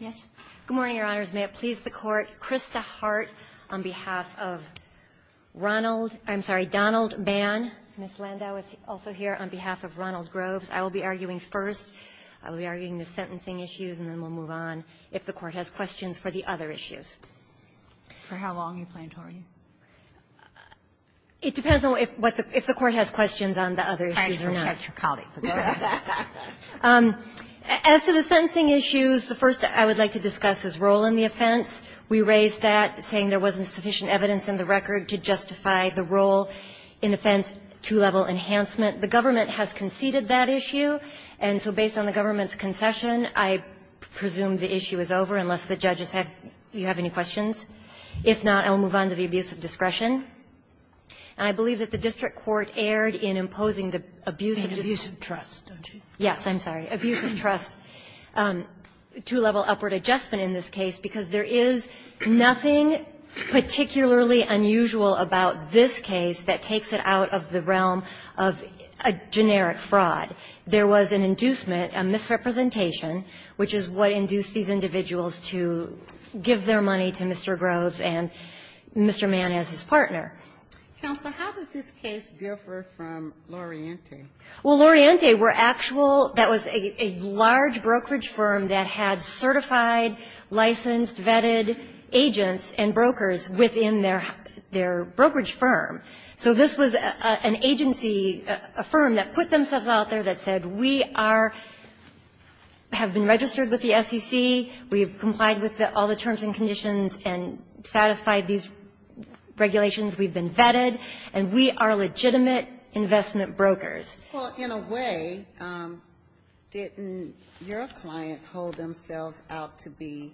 May it please the Court, Krista Hart on behalf of Ronald, I'm sorry, Donald Bann. Ms. Landau is also here on behalf of Ronald Groves. I will be arguing first. I will be arguing the sentencing issues, and then we'll move on if the Court has questions for the other issues. For how long are you planning to argue? It depends on what the – if the Court has questions on the other issues or not. I actually checked your colleague. As to the sentencing issues, the first I would like to discuss is role in the offense. We raised that, saying there wasn't sufficient evidence in the record to justify the role in offense two-level enhancement. The government has conceded that issue, and so based on the government's concession, I presume the issue is over, unless the judges have – you have any questions. If not, I will move on to the abuse of discretion. And I believe that the district court erred in imposing the abuse of discretion. I think you're referring to abuse of trust, don't you? Yes, I'm sorry. Abuse of trust. Two-level upward adjustment in this case, because there is nothing particularly unusual about this case that takes it out of the realm of a generic fraud. There was an inducement, a misrepresentation, which is what induced these individuals to give their money to Mr. Groves and Mr. Mann as his partner. Counsel, how does this case differ from Loriente? Well, Loriente were actual – that was a large brokerage firm that had certified, licensed, vetted agents and brokers within their brokerage firm. So this was an agency, a firm that put themselves out there that said, we are – have been registered with the SEC. We have complied with all the terms and conditions and satisfied these regulations. We've been vetted. And we are legitimate investment brokers. Well, in a way, didn't your clients hold themselves out to be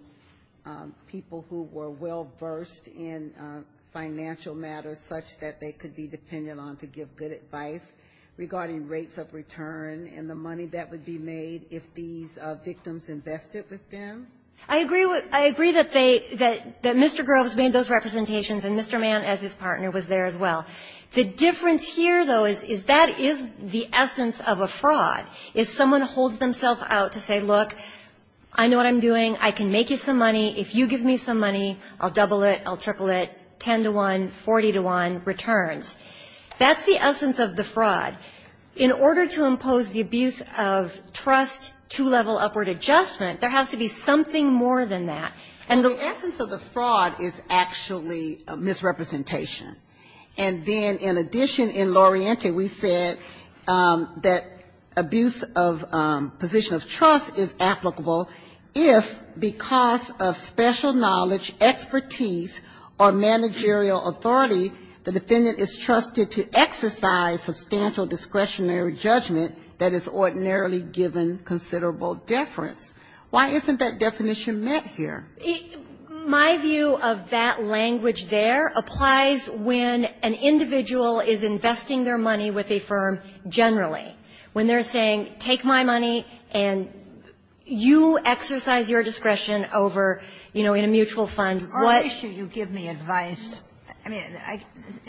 people who were well-versed in financial matters such that they could be dependent on to give good advice regarding rates of return and the money that would be made if these victims invested with them? I agree with – I agree that they – that Mr. Groves made those representations and Mr. Mann as his partner was there as well. The difference here, though, is that is the essence of a fraud, is someone holds themselves out to say, look, I know what I'm doing. I can make you some money. If you give me some money, I'll double it, I'll triple it, 10 to 1, 40 to 1 returns. That's the essence of the fraud. In order to impose the abuse of trust two-level upward adjustment, there has to be something more than that. And the – The essence of the fraud is actually a misrepresentation. And then, in addition, in Loriente, we said that abuse of position of trust is applicable if, because of special knowledge, expertise, or managerial authority, the defendant is trusted to exercise substantial discretionary judgment that is ordinarily given considerable deference. Why isn't that definition met here? My view of that language there applies when an individual is investing their money with a firm generally. When they're saying, take my money and you exercise your discretion over, you know, in a mutual fund, what – I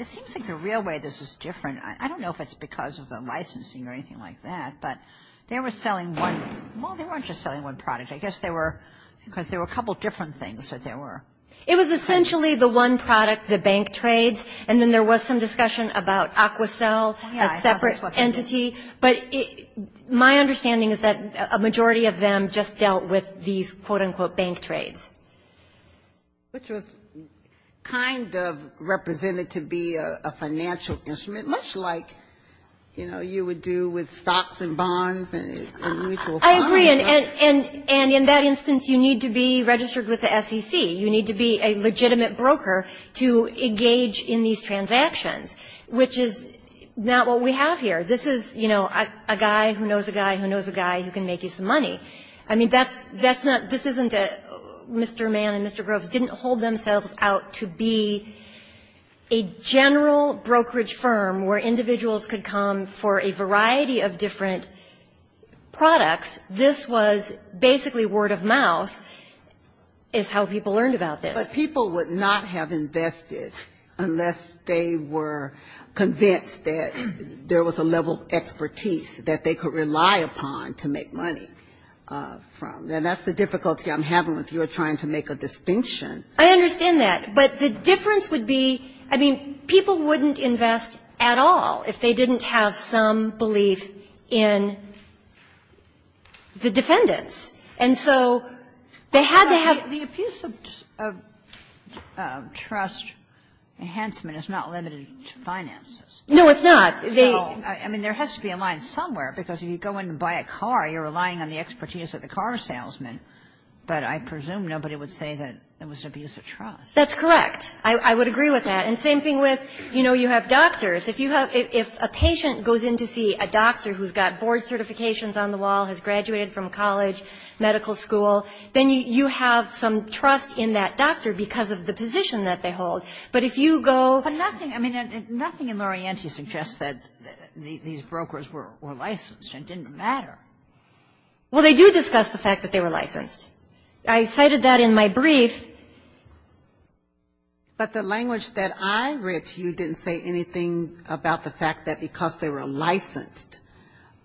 think the real way this is different, I don't know if it's because of the licensing or anything like that, but they were selling one – well, they weren't just selling one product. I guess they were – because there were a couple of different things that there were. It was essentially the one product, the bank trades, and then there was some discussion about Aquacel, a separate entity, but my understanding is that a majority of them just dealt with these, quote, unquote, bank trades. Ginsburg. Which was kind of represented to be a financial instrument, much like, you know, you would do with stocks and bonds and mutual funds. Kagan. I agree. And in that instance, you need to be registered with the SEC. You need to be a legitimate broker to engage in these transactions, which is not what we have here. This is, you know, a guy who knows a guy who knows a guy who can make you some money. I mean, that's not – this isn't a – Mr. Mann and Mr. Groves didn't hold themselves out to be a general brokerage firm where individuals could come for a variety of different products. This was basically word of mouth is how people learned about this. Ginsburg. But people would not have invested unless they were convinced that there was a level of expertise that they could rely upon to make money from. Now, that's the difficulty I'm having with your trying to make a distinction. Kagan. I understand that. But the difference would be – I mean, people wouldn't invest at all if they didn't have some belief in the defendants. And so they had to have – Kagan. The abuse of trust enhancement is not limited to finances. Kagan. No, it's not. I mean, there has to be a line somewhere, because if you go in and buy a car, you're relying on the expertise of the car salesman. But I presume nobody would say that it was abuse of trust. That's correct. I would agree with that. And same thing with, you know, you have doctors. If you have – if a patient goes in to see a doctor who's got board certifications on the wall, has graduated from college, medical school, then you have some trust in that doctor because of the position that they hold. But if you go – But nothing – I mean, nothing in Lorienti suggests that these brokers were licensed and didn't matter. Well, they do discuss the fact that they were licensed. I cited that in my brief. But the language that I read to you didn't say anything about the fact that because they were licensed,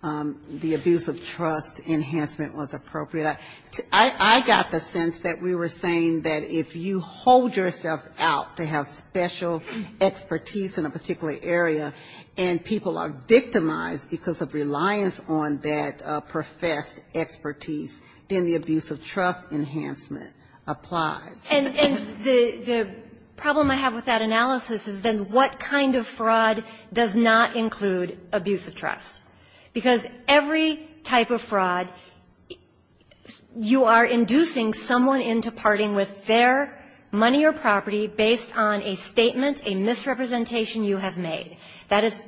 the abuse of trust enhancement was appropriate. I got the sense that we were saying that if you hold yourself out to have special expertise in a particular area, and people are victimized because of reliance on that professed expertise, then the abuse of trust enhancement applies. And the problem I have with that analysis is then what kind of fraud does not include abuse of trust? Because every type of fraud, you are inducing someone into parting with their money or property based on a statement, a misrepresentation you have made. That is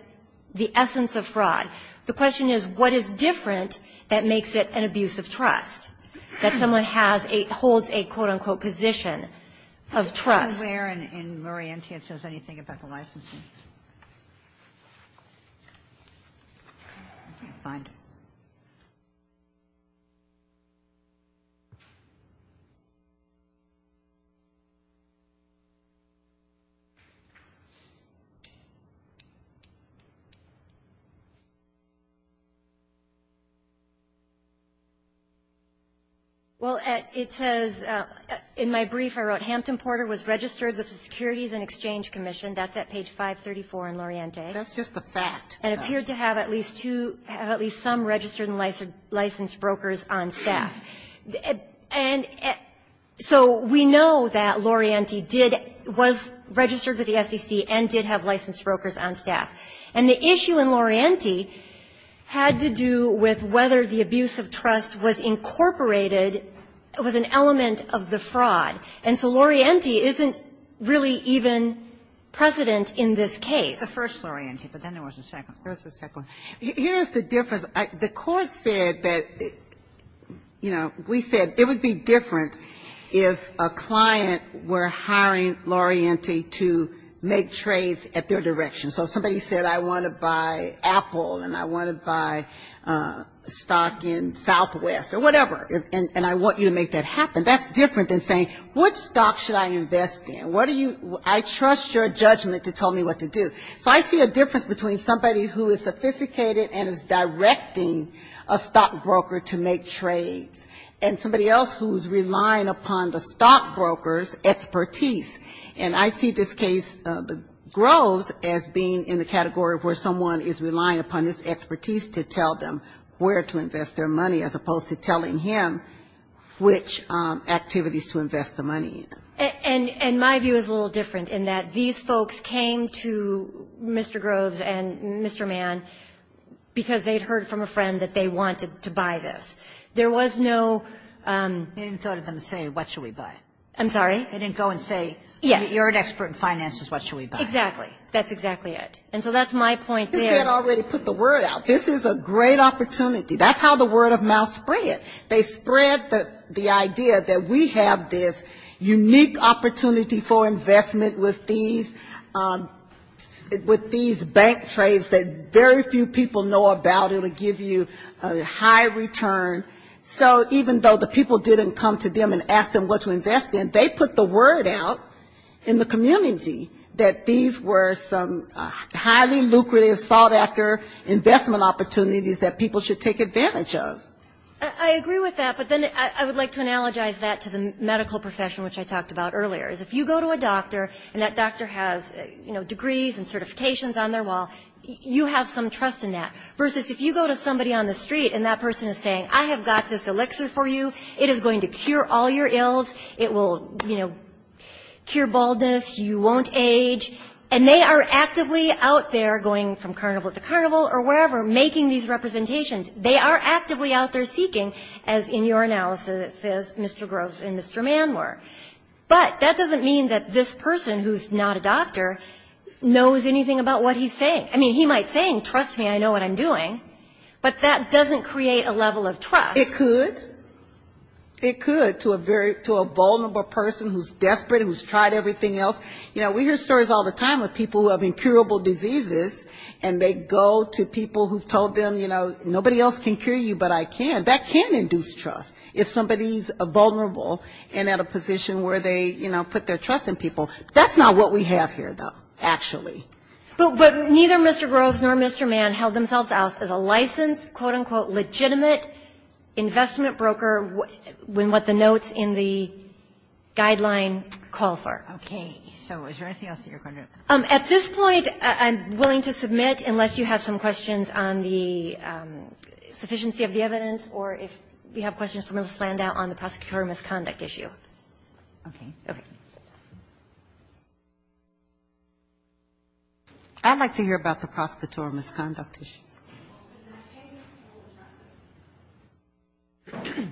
the essence of fraud. The question is, what is different that makes it an abuse of trust, that someone has a – holds a, quote, unquote, position of trust? Sotomayor in Lorientia, it says anything about the licensing? I can't find it. Well, it says, in my brief, I wrote, Hampton Porter was registered with the Securities and Exchange Commission. That's at page 534 in Lorientia. That's just a fact. And appeared to have at least two – have at least some registered and licensed brokers on staff. And so we know that Lorienti did – was registered with the SEC and did have licensed brokers on staff. And the issue in Lorienti had to do with whether the abuse of trust was incorporated, was an element of the fraud. And so Lorienti isn't really even precedent in this case. It was the first Lorienti, but then there was a second one. There was a second one. Here is the difference. The court said that, you know, we said it would be different if a client were hiring Lorienti to make trades at their direction. So if somebody said, I want to buy Apple and I want to buy a stock in Southwest or whatever, and I want you to make that happen, that's different than saying, what stock should I invest in? What do you – I trust your judgment to tell me what to do? So I see a difference between somebody who is sophisticated and is directing a stockbroker to make trades and somebody else who is relying upon the stockbroker's expertise. And I see this case, Groves, as being in the category where someone is relying upon this expertise to tell them where to invest their money, as opposed to telling him which activities to invest the money in. And my view is a little different in that these folks came to Mr. Groves and Mr. Mann because they had heard from a friend that they wanted to buy this. There was no – They didn't go to them and say, what should we buy? I'm sorry? They didn't go and say, you're an expert in finances, what should we buy? Exactly. That's exactly it. And so that's my point there. They had already put the word out. This is a great opportunity. That's how the word of mouth spread. They spread the idea that we have this unique opportunity for investment with these bank trades that very few people know about. It'll give you a high return. So even though the people didn't come to them and ask them what to invest in, they put the word out in the community that these were some highly lucrative, sought-after investment opportunities that people should take advantage of. I agree with that. But then I would like to analogize that to the medical profession, which I talked about earlier, is if you go to a doctor and that doctor has, you know, degrees and certifications on their wall, you have some trust in that. Versus if you go to somebody on the street and that person is saying, I have got this elixir for you, it is going to cure all your ills, it will, you know, cure your baldness, you won't age, and they are actively out there going from carnival to carnival or wherever, making these representations. They are actively out there seeking, as in your analysis, as Mr. Gross and Mr. Mann were. But that doesn't mean that this person who is not a doctor knows anything about what he's saying. I mean, he might say, trust me, I know what I'm doing. But that doesn't create a level of trust. It could. It could, to a vulnerable person who is desperate, who has tried everything else. You know, we hear stories all the time of people who have incurable diseases, and they go to people who have told them, you know, nobody else can cure you, but I can. That can induce trust. If somebody is vulnerable and at a position where they, you know, put their trust in people. That's not what we have here, though, actually. But neither Mr. Gross nor Mr. Mann held themselves out as a licensed, quote, unquote, legitimate medical professional. That's what the investment broker, what the notes in the guideline call for. Okay. So is there anything else that you're going to do? At this point, I'm willing to submit, unless you have some questions on the sufficiency of the evidence, or if you have questions for Ms. Landau on the prosecutorial misconduct issue. Okay. Okay. I'd like to hear about the prosecutorial misconduct issue. In that case, we'll address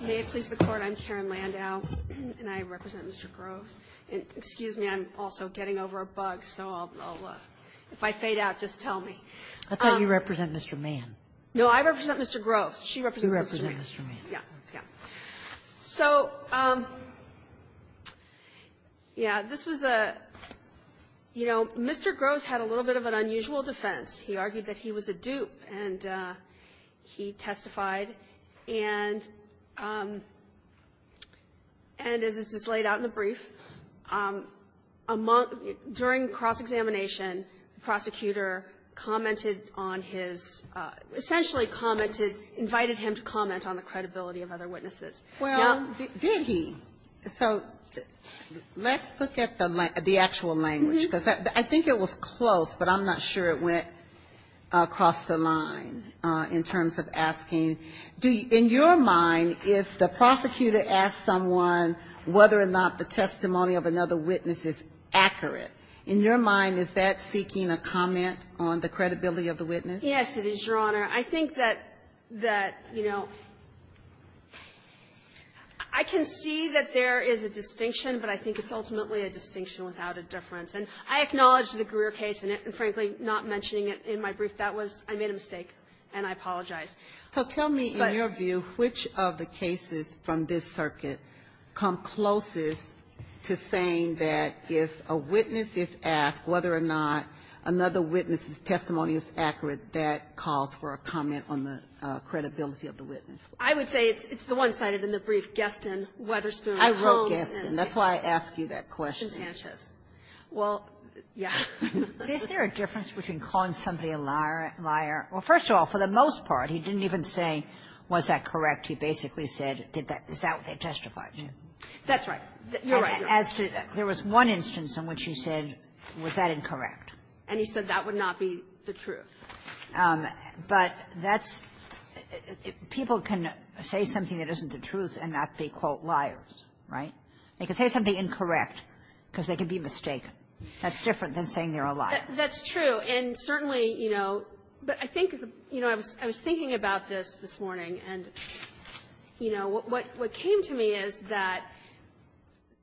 it. May it please the Court, I'm Karen Landau, and I represent Mr. Gross. And excuse me, I'm also getting over a bug, so I'll look. If I fade out, just tell me. I thought you represent Mr. Mann. No, I represent Mr. Gross. She represents Mr. Mann. You represent Mr. Mann. Yeah. Yeah. So, yeah, this was a, you know, Mr. Gross had a little bit of an unusual defense. He argued that he was a dupe, and he testified. And as it's laid out in the brief, during cross-examination, the prosecutor commented on his, essentially commented, invited him to comment on the credibility of other witnesses. Well, did he? So let's look at the actual language, because I think it was close, but I'm not sure it went across the line in terms of asking. In your mind, if the prosecutor asks someone whether or not the testimony of another witness is true, would you comment on the credibility of the witness? Yes, it is, Your Honor. I think that, you know, I can see that there is a distinction, but I think it's ultimately a distinction without a difference. And I acknowledge the Greer case, and frankly, not mentioning it in my brief. That was – I made a mistake, and I apologize. So tell me, in your view, which of the cases from this circuit come closest to saying that if a witness is asked whether or not another witness's testimony is accurate, that calls for a comment on the credibility of the witness? I would say it's the one cited in the brief, Guestin, Wetherspoon, Holmes, and Sanchez. I wrote Guestin. That's why I asked you that question. And Sanchez. Well, yes. Is there a difference between calling somebody a liar? Well, first of all, for the most part, he didn't even say, was that correct? He basically said, is that what they testified to? That's right. You're right. As to – there was one instance in which he said, was that incorrect? And he said that would not be the truth. But that's – people can say something that isn't the truth and not be, quote, liars, right? They can say something incorrect because they can be mistaken. That's different than saying they're a liar. That's true. And certainly, you know – but I think, you know, I was thinking about this this afternoon, and, you know, what came to me is that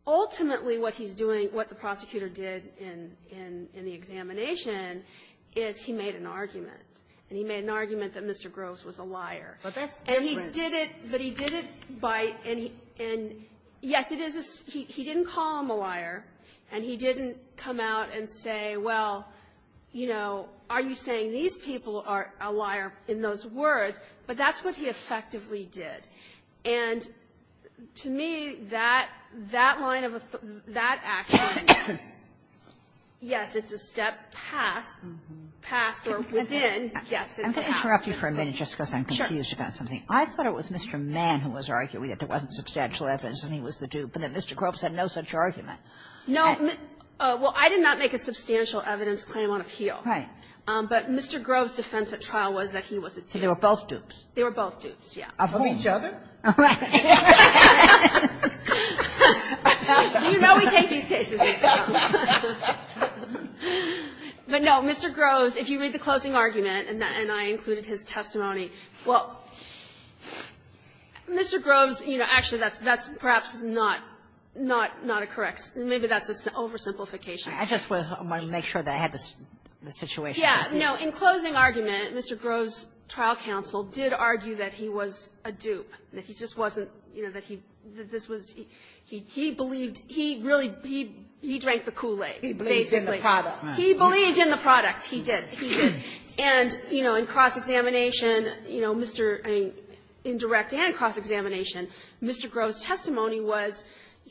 ultimately what he's doing, what the prosecutor did in the examination, is he made an argument. And he made an argument that Mr. Groves was a liar. But that's different. And he did it, but he did it by – and, yes, it is – he didn't call him a liar, and he didn't come out and say, well, you know, are you saying these people are a liar in those words? But that's what he effectively did. And to me, that – that line of – that action, yes, it's a step past – past or within, yes, it's a step past. Kagan. I'm going to interrupt you for a minute just because I'm confused about something. I thought it was Mr. Mann who was arguing that there wasn't substantial evidence and he was the dupe, and that Mr. Groves had no such argument. No. Well, I did not make a substantial evidence claim on appeal. Right. But Mr. Groves' defense at trial was that he was a dupe. So they were both dupes? They were both dupes, yes. Of each other? All right. You know we take these cases. But, no, Mr. Groves, if you read the closing argument, and I included his testimony, well, Mr. Groves, you know, actually, that's – that's perhaps not – not a correct – maybe that's an oversimplification. I just want to make sure that I had the situation. Yes. No. In closing argument, Mr. Groves' trial counsel did argue that he was a dupe, that he just wasn't – you know, that he – that this was – he believed – he really – he drank the Kool-Aid, basically. He believed in the product. He believed in the product. He did. He did. And, you know, in cross-examination, you know, Mr. – I mean, in direct and cross-examination, Mr. Groves' testimony was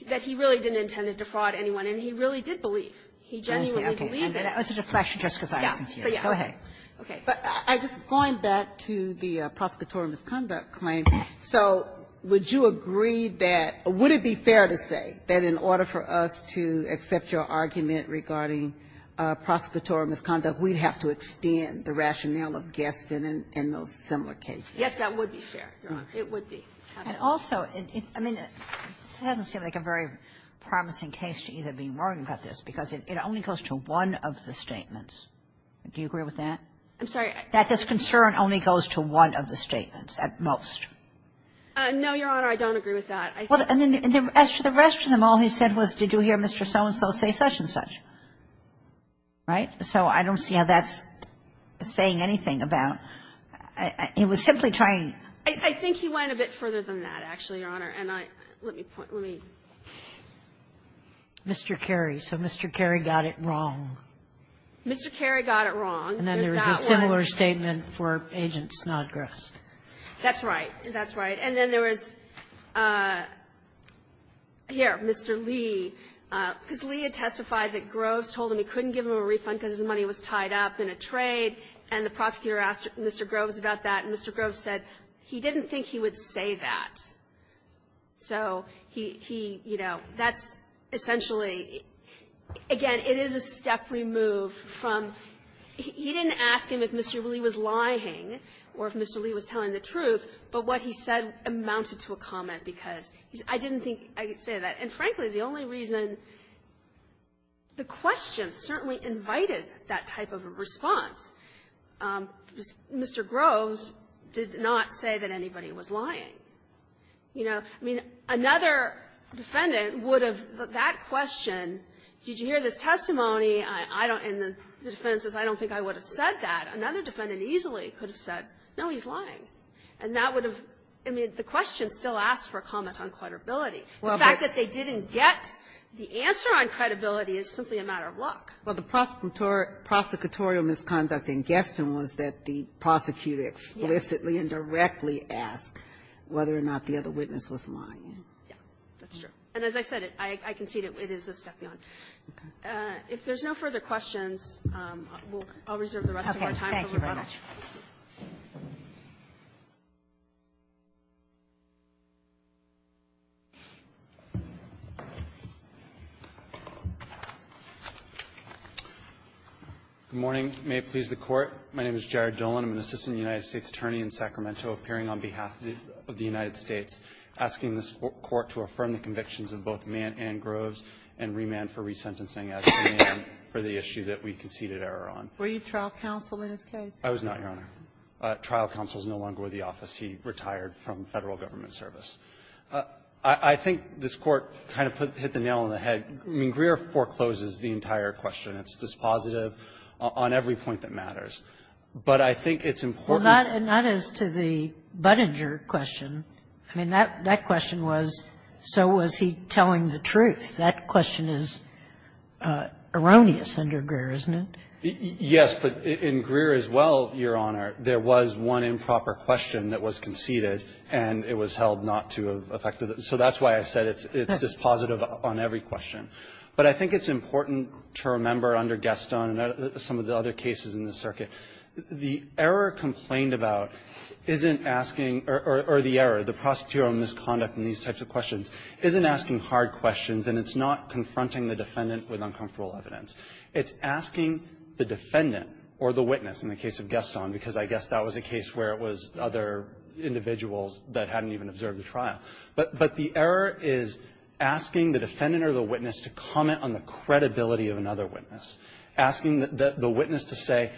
that he really didn't intend to defraud anyone, and he really did believe. He genuinely believed in it. It's a deflection just because I was confused. Go ahead. Okay. But I just – going back to the prosecutorial misconduct claim, so would you agree that – would it be fair to say that in order for us to accept your argument regarding prosecutorial misconduct, we'd have to extend the rationale of Gaston and those similar cases? Yes, that would be fair, Your Honor. It would be. And also, I mean, this doesn't seem like a very promising case to either be worrying about this, because it only goes to one of the statements. Do you agree with that? I'm sorry. That this concern only goes to one of the statements at most. No, Your Honor. I don't agree with that. I think – Well, and then the rest of them, all he said was, did you hear Mr. So-and-so say such and such. Right? So I don't see how that's saying anything about – he was simply trying – I think he went a bit further than that, actually, Your Honor. And I – let me point – let me – Mr. Kerry. So Mr. Kerry got it wrong. Mr. Kerry got it wrong. There's that one. And then there was a similar statement for Agent Snodgrass. That's right. That's right. And then there was, here, Mr. Lee, because Lee had testified that Groves told him he couldn't give him a refund because his money was tied up in a trade, and the he didn't think he would say that. So he – you know, that's essentially – again, it is a step removed from – he didn't ask him if Mr. Lee was lying or if Mr. Lee was telling the truth, but what he said amounted to a comment because he's – I didn't think I could say that. And frankly, the only reason – the question certainly invited that type of a response. Mr. Groves did not say that anybody was lying. You know, I mean, another defendant would have – that question, did you hear this testimony, I don't – and the defendant says, I don't think I would have said that, another defendant easily could have said, no, he's lying. And that would have – I mean, the question still asks for a comment on credibility. The fact that they didn't get the answer on credibility is simply a matter of luck. Well, the prosecutorial misconduct in Gaston was that the prosecutor explicitly and directly asked whether or not the other witness was lying. Yeah, that's true. And as I said, I concede it is a step beyond. Okay. If there's no further questions, I'll reserve the rest of our time for rebuttal. Thank you very much. Good morning. May it please the Court. My name is Jared Dolan. I'm an assistant United States attorney in Sacramento, appearing on behalf of the United States, asking this Court to affirm the convictions of both Mann and Groves and remand for resentencing as to Mann for the issue that we conceded error on. Were you trial counsel in his case? I was not, Your Honor. Trial counsel is no longer with the office. He retired from Federal Government service. I think this Court kind of hit the nail on the head. I mean, Greer forecloses the entire question. It's dispositive on every point that matters. But I think it's important. Well, not as to the Budinger question. I mean, that question was, so was he telling the truth? That question is erroneous under Greer, isn't it? Yes, but in Greer as well, Your Honor, there was one improper question that was conceded, and it was held not to have affected it. So that's why I said it's dispositive on every question. But I think it's important to remember under Gaston and some of the other cases in this circuit, the error complained about isn't asking, or the error, the prosecutorial misconduct in these types of questions isn't asking hard questions, and it's not confronting the defendant with uncomfortable evidence. It's asking the defendant or the witness in the case of Gaston, because I guess that was a case where it was other individuals that hadn't even observed the trial. But the error is asking the defendant or the witness to comment on the credibility of another witness, asking the witness to say,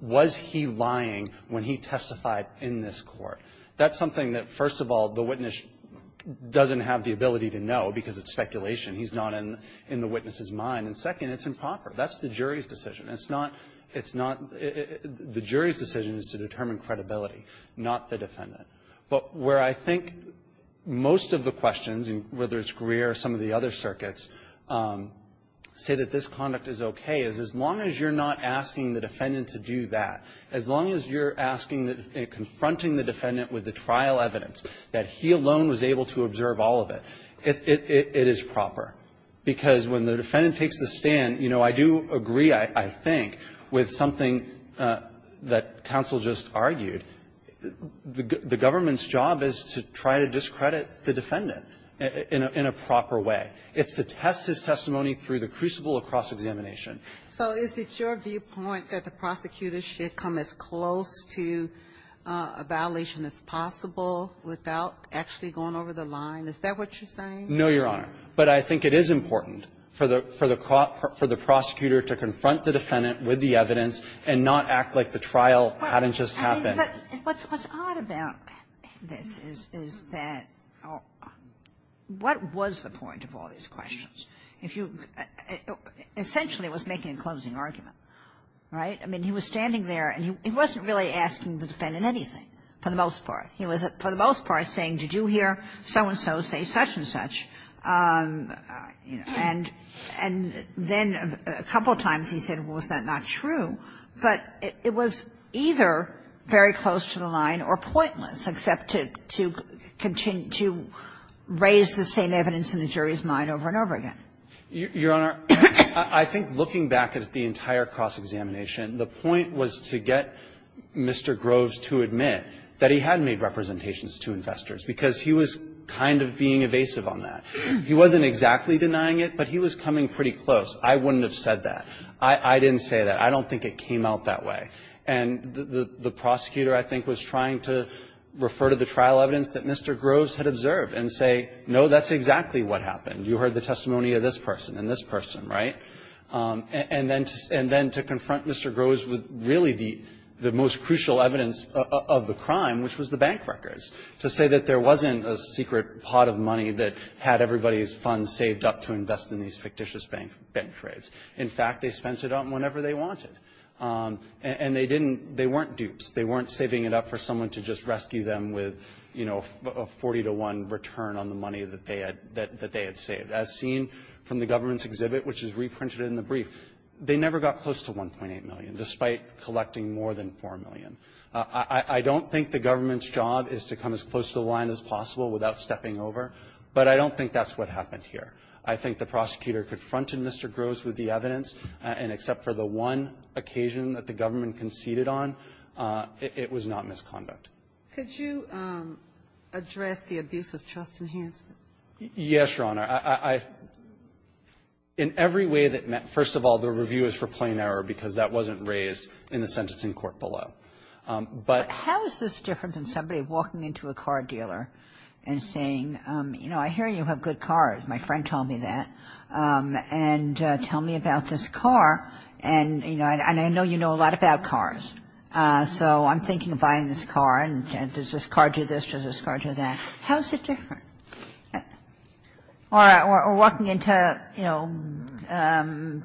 was he lying when he testified in this court? That's something that, first of all, the witness doesn't have the ability to know because it's speculation. He's not in the witness's mind. And second, it's improper. That's the jury's decision. It's not the jury's decision is to determine credibility, not the defendant. But where I think most of the questions, whether it's Greer or some of the other circuits, say that this conduct is okay is as long as you're not asking the defendant to do that, as long as you're asking and confronting the defendant with the trial evidence that he alone was able to observe all of it, it is proper. Because when the defendant takes the stand, you know, I do agree, I think, with something that counsel just argued. The government's job is to try to discredit the defendant in a proper way. It's to test his testimony through the crucible of cross-examination. So is it your viewpoint that the prosecutor should come as close to a violation as possible without actually going over the line? Is that what you're saying? No, Your Honor. But I think it is important for the prosecutor to confront the defendant with the truth and not act like the trial hadn't just happened. But what's odd about this is that what was the point of all these questions? If you – essentially, it was making a closing argument, right? I mean, he was standing there and he wasn't really asking the defendant anything, for the most part. He was, for the most part, saying, did you hear so-and-so say such-and-such? And then a couple times he said, well, is that not true? But it was either very close to the line or pointless, except to continue to raise the same evidence in the jury's mind over and over again. Your Honor, I think looking back at the entire cross-examination, the point was to get Mr. Groves to admit that he had made representations to investors, because he was kind of being evasive on that. He wasn't exactly denying it, but he was coming pretty close. I wouldn't have said that. I didn't say that. I don't think it came out that way. And the prosecutor, I think, was trying to refer to the trial evidence that Mr. Groves had observed and say, no, that's exactly what happened. You heard the testimony of this person and this person, right? And then to confront Mr. Groves with really the most crucial evidence of the crime, which was the bank records, to say that there wasn't a secret pot of money that had everybody's funds saved up to invest in these fictitious bank trades. In fact, they spent it on whenever they wanted. And they weren't dupes. They weren't saving it up for someone to just rescue them with a 40-to-1 return on the money that they had saved. As seen from the government's exhibit, which is reprinted in the brief, they never got close to $1.8 million, despite collecting more than $4 million. I don't think the government's job is to come as close to the line as possible without stepping over. But I don't think that's what happened here. I think the prosecutor confronted Mr. Groves with the evidence. And except for the one occasion that the government conceded on, it was not misconduct. Ginsburg. Could you address the abuse of trust enhancement? Yes, Your Honor. I — in every way that meant — first of all, the review is for plain error because that wasn't raised in the sentencing court below. But — How is this different than somebody walking into a car dealer and saying, you know, I hear you have good cars. My friend told me that. And tell me about this car. And, you know, I know you know a lot about cars. So I'm thinking of buying this car. And does this car do this? Does this car do that? How is it different? Or walking into, you know,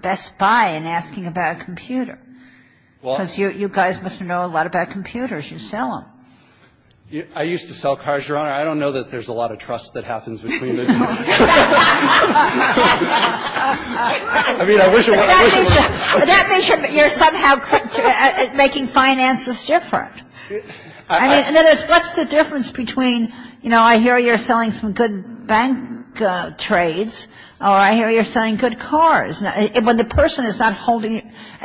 Best Buy and asking about a computer. Well — Well, you guys must know a lot about computers. You sell them. I used to sell cars, Your Honor. I don't know that there's a lot of trust that happens between the two. I mean, I wish it was — But that means you're somehow making finances different. I mean, in other words, what's the difference between, you know, I hear you're selling some good bank trades or I hear you're selling good cars? Well, the person is not holding —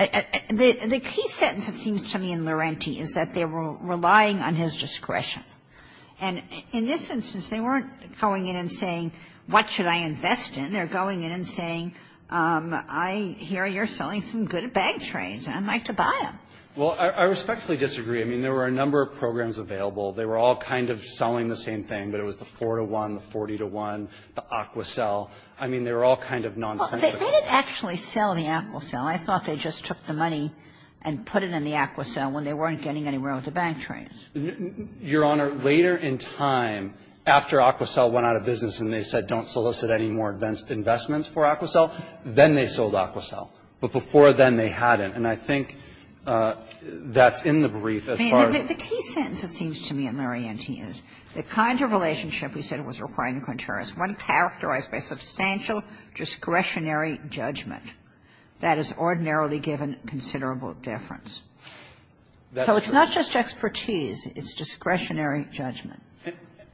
The key sentence, it seems to me, in Laurenti is that they were relying on his discretion. And in this instance, they weren't going in and saying, what should I invest in? They're going in and saying, I hear you're selling some good bank trades and I'd like to buy them. Well, I respectfully disagree. I mean, there were a number of programs available. They were all kind of selling the same thing, but it was the four-to-one, the 40-to-one, the AquaCell. I mean, they were all kind of nonsensical. Well, they didn't actually sell the AquaCell. I thought they just took the money and put it in the AquaCell when they weren't getting anywhere with the bank trades. Your Honor, later in time, after AquaCell went out of business and they said don't solicit any more investments for AquaCell, then they sold AquaCell. But before then, they hadn't. And I think that's in the brief as far as — The key sentence, it seems to me, in Laurenti is the kind of relationship we said was requiring contrariness. One characterized by substantial discretionary judgment. That is ordinarily given considerable deference. So it's not just expertise. It's discretionary judgment.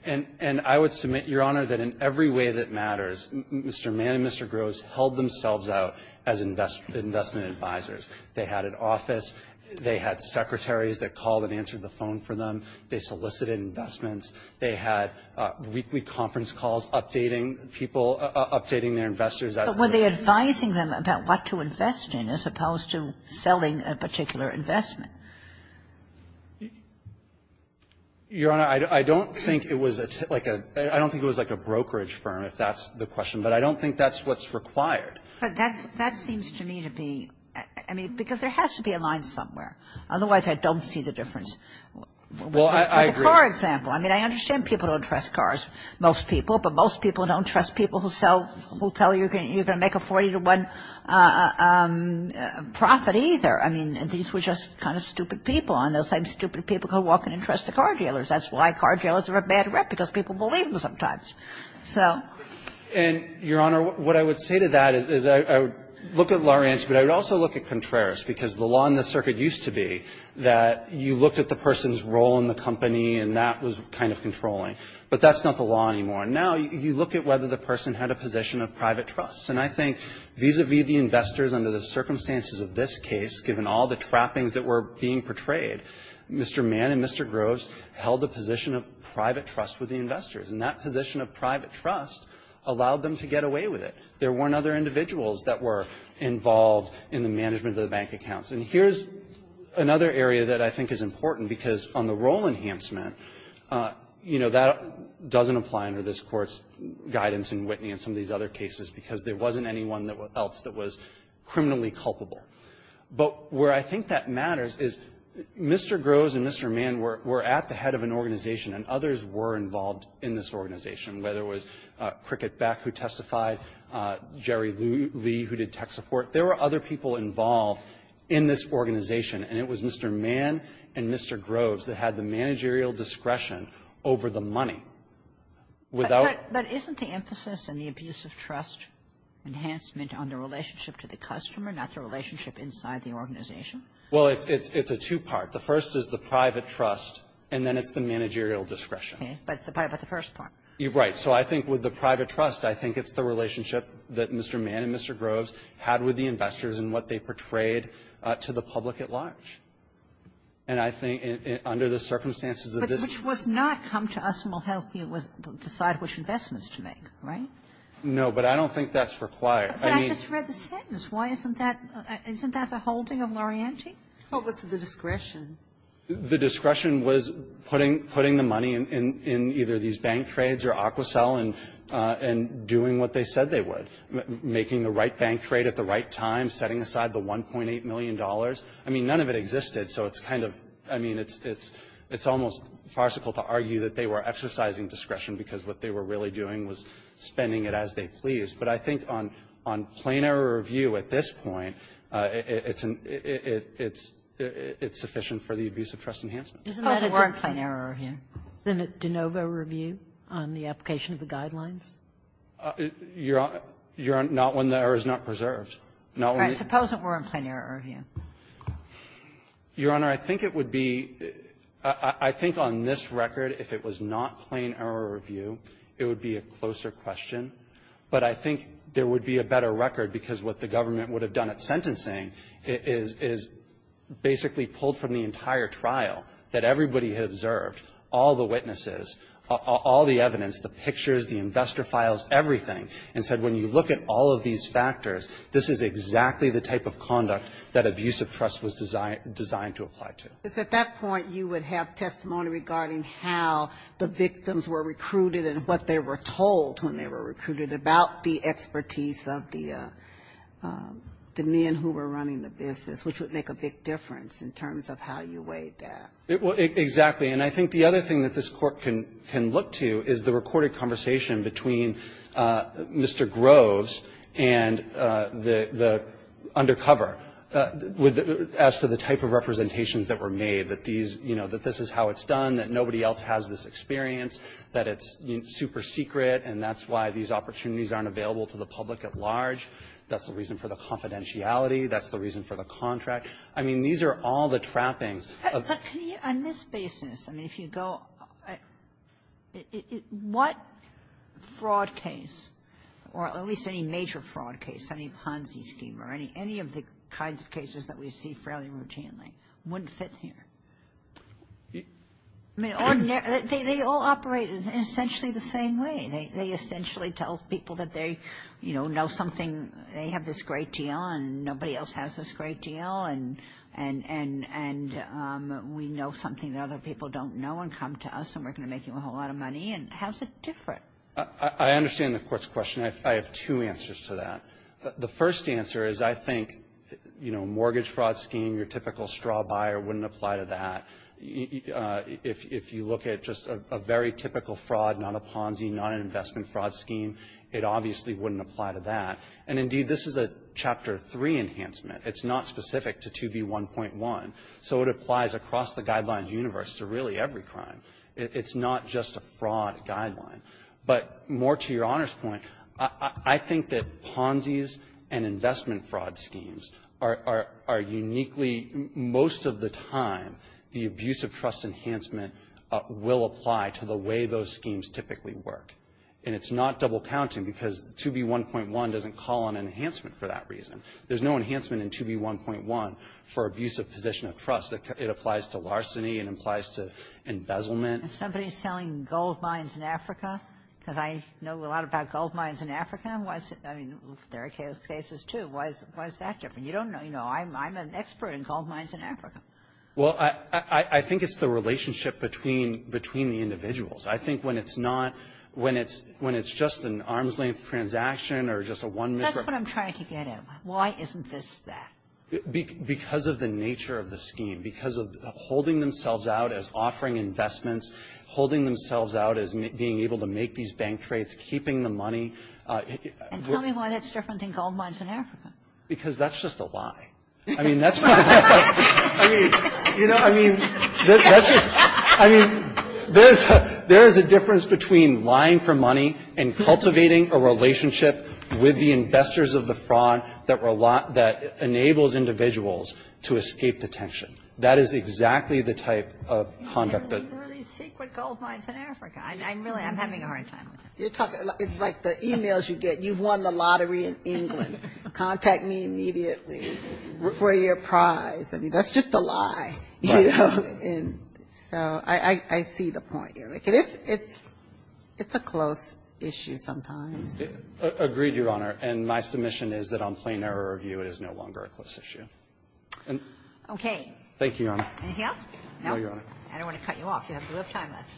And I would submit, Your Honor, that in every way that matters, Mr. Mann and Mr. Groves held themselves out as investment advisors. They had an office. They had secretaries that called and answered the phone for them. They solicited investments. They had weekly conference calls updating people, updating their investors. But were they advising them about what to invest in as opposed to selling a particular investment? Your Honor, I don't think it was like a — I don't think it was like a brokerage firm, if that's the question. But I don't think that's what's required. But that seems to me to be — I mean, because there has to be a line somewhere. Otherwise, I don't see the difference. Well, I agree. But it's a car example. I mean, I understand people don't trust cars, most people. But most people don't trust people who sell — who tell you you're going to make a 40-to-1 profit either. I mean, these were just kind of stupid people. And those same stupid people could walk in and trust the car dealers. That's why car dealers are a bad rep, because people believe them sometimes. So — And, Your Honor, what I would say to that is I would look at Lawrence, but I would also look at Contreras, because the law in the circuit used to be that you looked at the person's role in the company, and that was kind of controlling. But that's not the law anymore. And now you look at whether the person had a position of private trust. And I think vis-a-vis the investors under the circumstances of this case, given all the trappings that were being portrayed, Mr. Mann and Mr. Groves held a position of private trust with the investors. And that position of private trust allowed them to get away with it. There weren't other individuals that were involved in the management of the bank accounts. And here's another area that I think is important, because on the role enhancement, you know, that doesn't apply under this Court's guidance in Whitney and some of these other cases, because there wasn't anyone else that was criminally culpable. But where I think that matters is Mr. Groves and Mr. Mann were at the head of an organization, and others were involved in this organization, whether it was Cricket Beck, who testified, Jerry Lee, who did tech support. There were other people involved in this organization. And it was Mr. Mann and Mr. Groves that had the managerial discretion over the money. Without — But isn't the emphasis in the abuse of trust enhancement on the relationship to the customer, not the relationship inside the organization? Well, it's a two-part. The first is the private trust, and then it's the managerial discretion. Okay. But the first part. Right. So I think with the private trust, I think it's the relationship that Mr. Mann and Mr. Groves had with the investors and what they portrayed to the public at large. And I think under the circumstances of this case — But which was not come to us and we'll help you decide which investments to make, right? No, but I don't think that's required. I mean — But I just read the sentence. Why isn't that — isn't that a holding of Lorienti? What was the discretion? The discretion was putting the money in either these bank trades or Aquacel and doing what they said they would, making the right bank trade at the right time, setting aside the $1.8 million. I mean, none of it existed. So it's kind of — I mean, it's almost farcical to argue that they were exercising discretion because what they were really doing was spending it as they pleased. But I think on plain error review at this point, it's sufficient for the abuse of trust enhancement. Isn't that a good point? Isn't that a warrant plain error review? Isn't it de novo review on the application of the guidelines? Your Honor, not when the error is not preserved. Right. Suppose it were in plain error review. Your Honor, I think it would be — I think on this record, if it was not plain error review, it would be a closer question. But I think there would be a better record because what the government would have done at sentencing is basically pulled from the entire trial that everybody had observed, all the witnesses, all the evidence, the pictures, the investor files, everything, and said, when you look at all of these factors, this is exactly the type of conduct that abuse of trust was designed to apply to. Because at that point, you would have testimony regarding how the victims were recruited and what they were told when they were recruited about the expertise of the men who were running the business, which would make a big difference in terms of how you weighed that. Exactly. And I think the other thing that this Court can look to is the recorded conversation between Mr. Groves and the undercover as to the type of representations that were made, that these — you know, that this is how it's done, that nobody else has this experience, that it's super secret and that's why these opportunities aren't available to the public at large. That's the reason for the confidentiality. That's the reason for the contract. I mean, these are all the trappings. But can you, on this basis, I mean, if you go — what fraud case, or at least any major fraud case, any Ponzi scheme or any of the kinds of cases that we see fairly routinely, wouldn't fit here? I mean, ordinary — they all operate in essentially the same way. They essentially tell people that they, you know, know something, they have this great deal, and we know something that other people don't know and come to us, and we're going to make you a whole lot of money. And how's it different? I understand the Court's question. I have two answers to that. The first answer is, I think, you know, mortgage fraud scheme, your typical straw buyer wouldn't apply to that. If you look at just a very typical fraud, not a Ponzi, not an investment fraud scheme, it obviously wouldn't apply to that. And indeed, this is a Chapter 3 enhancement. It's not specific to 2B1.1. So it applies across the guidelines universe to really every crime. It's not just a fraud guideline. But more to Your Honor's point, I think that Ponzi's and investment fraud schemes are uniquely — most of the time, the abuse of trust enhancement will apply to the way those schemes typically work. And it's not double-counting, because 2B1.1 doesn't call on enhancement for that reason. There's no enhancement in 2B1.1 for abuse of position of trust. It applies to larceny. It applies to embezzlement. If somebody's selling gold mines in Africa, because I know a lot about gold mines in Africa, I mean, there are cases, too. Why is that different? You don't know. You know, I'm an expert in gold mines in Africa. Well, I think it's the relationship between the individuals. I think when it's not — when it's — when it's just an arm's-length transaction or just a one — That's what I'm trying to get at. Why isn't this that? Because of the nature of the scheme. Because of holding themselves out as offering investments, holding themselves out as being able to make these bank trades, keeping the money. And tell me why that's different than gold mines in Africa. Because that's just a lie. I mean, that's not — I mean, you know, I mean, that's just — I mean, there's a difference between lying for money and cultivating a relationship with the investors of the fraud that enables individuals to escape detention. That is exactly the type of conduct that — You have really secret gold mines in Africa. I'm really — I'm having a hard time with it. You're talking — it's like the e-mails you get. You've won the lottery in England. Contact me immediately for your prize. I mean, that's just a lie. Right. And so I see the point here. It's a close issue sometimes. Agreed, Your Honor. And my submission is that on plain error of view, it is no longer a close issue. Okay. Thank you, Your Honor. Anything else? No, Your Honor. I don't want to cut you off. You have a little time left.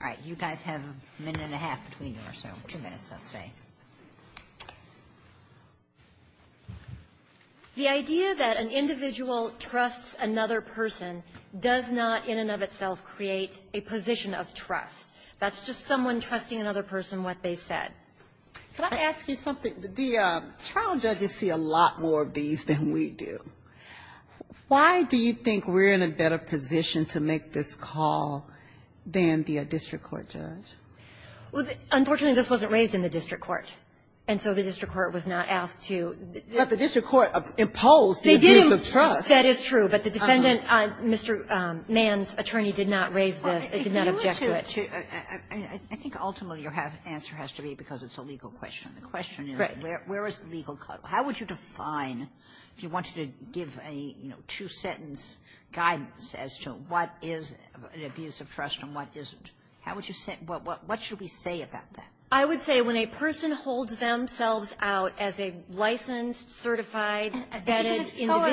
All right. You guys have a minute and a half between you or so. Two minutes, let's say. The idea that an individual trusts another person does not, in and of itself, create a position of trust. That's just someone trusting another person what they said. Can I ask you something? The trial judges see a lot more of these than we do. Why do you think we're in a better position to make this call than the district court judge? Well, unfortunately, this wasn't raised in the district court. And so the district court was not asked to. But the district court imposed the abuse of trust. They didn't. That is true. But the defendant, Mr. Mann's attorney, did not raise this. It did not object to it. I think ultimately your answer has to be because it's a legal question. The question is, where is the legal clause? How would you define, if you wanted to give a, you know, two-sentence guidance as to what is an abuse of trust and what isn't? How would you say? What should we say about that? I would say when a person holds themselves out as a licensed, certified, vetted individual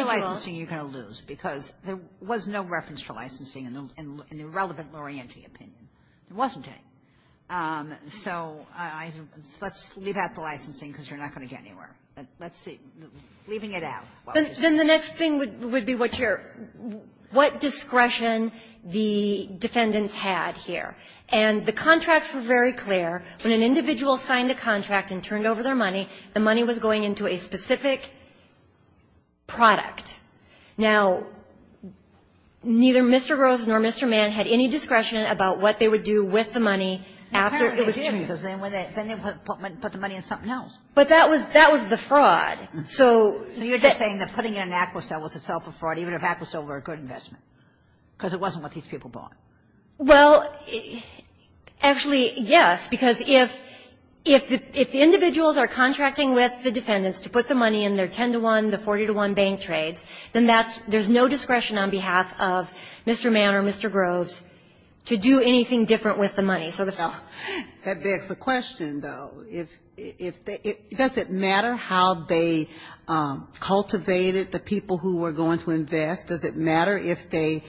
You're going to lose, because there was no reference for licensing in the relevant Laurenti opinion. There wasn't any. So let's leave out the licensing, because you're not going to get anywhere. But let's see. Leaving it out. Then the next thing would be what discretion the defendants had here. And the contracts were very clear. When an individual signed a contract and turned over their money, the money was going into a specific product. Now, neither Mr. Groves nor Mr. Mann had any discretion about what they would do with the money after it was changed. Apparently they did, because then they put the money in something else. But that was the fraud. So you're just saying that putting in an Aquacell was itself a fraud, even if Aquacell were a good investment, because it wasn't what these people bought. Well, actually, yes. Because if the individuals are contracting with the defendants to put the money in their 10-to-1, the 40-to-1 bank trades, then there's no discretion on behalf of Mr. Mann or Mr. Groves to do anything different with the money. That begs the question, though. Does it matter how they cultivated the people who were going to invest? Does it matter if they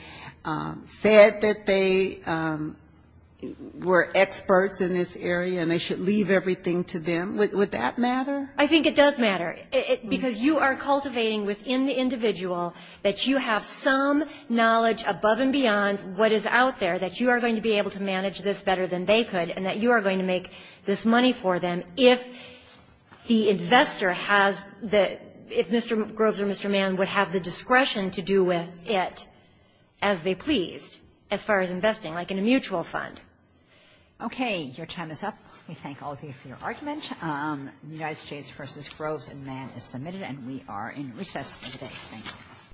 said that they were experts in this area and they should leave everything to them? Would that matter? I think it does matter. Because you are cultivating within the individual that you have some knowledge above and beyond what is out there, that you are going to be able to manage this better than they could, and that you are going to make this money for them. If the investor has the Mr. Groves or Mr. Mann would have the discretion to do with it as they pleased as far as investing, like in a mutual fund. Okay. Your time is up. We thank all of you for your argument. United States v. Groves and Mann is submitted, and we are in recess for the day. Thank you.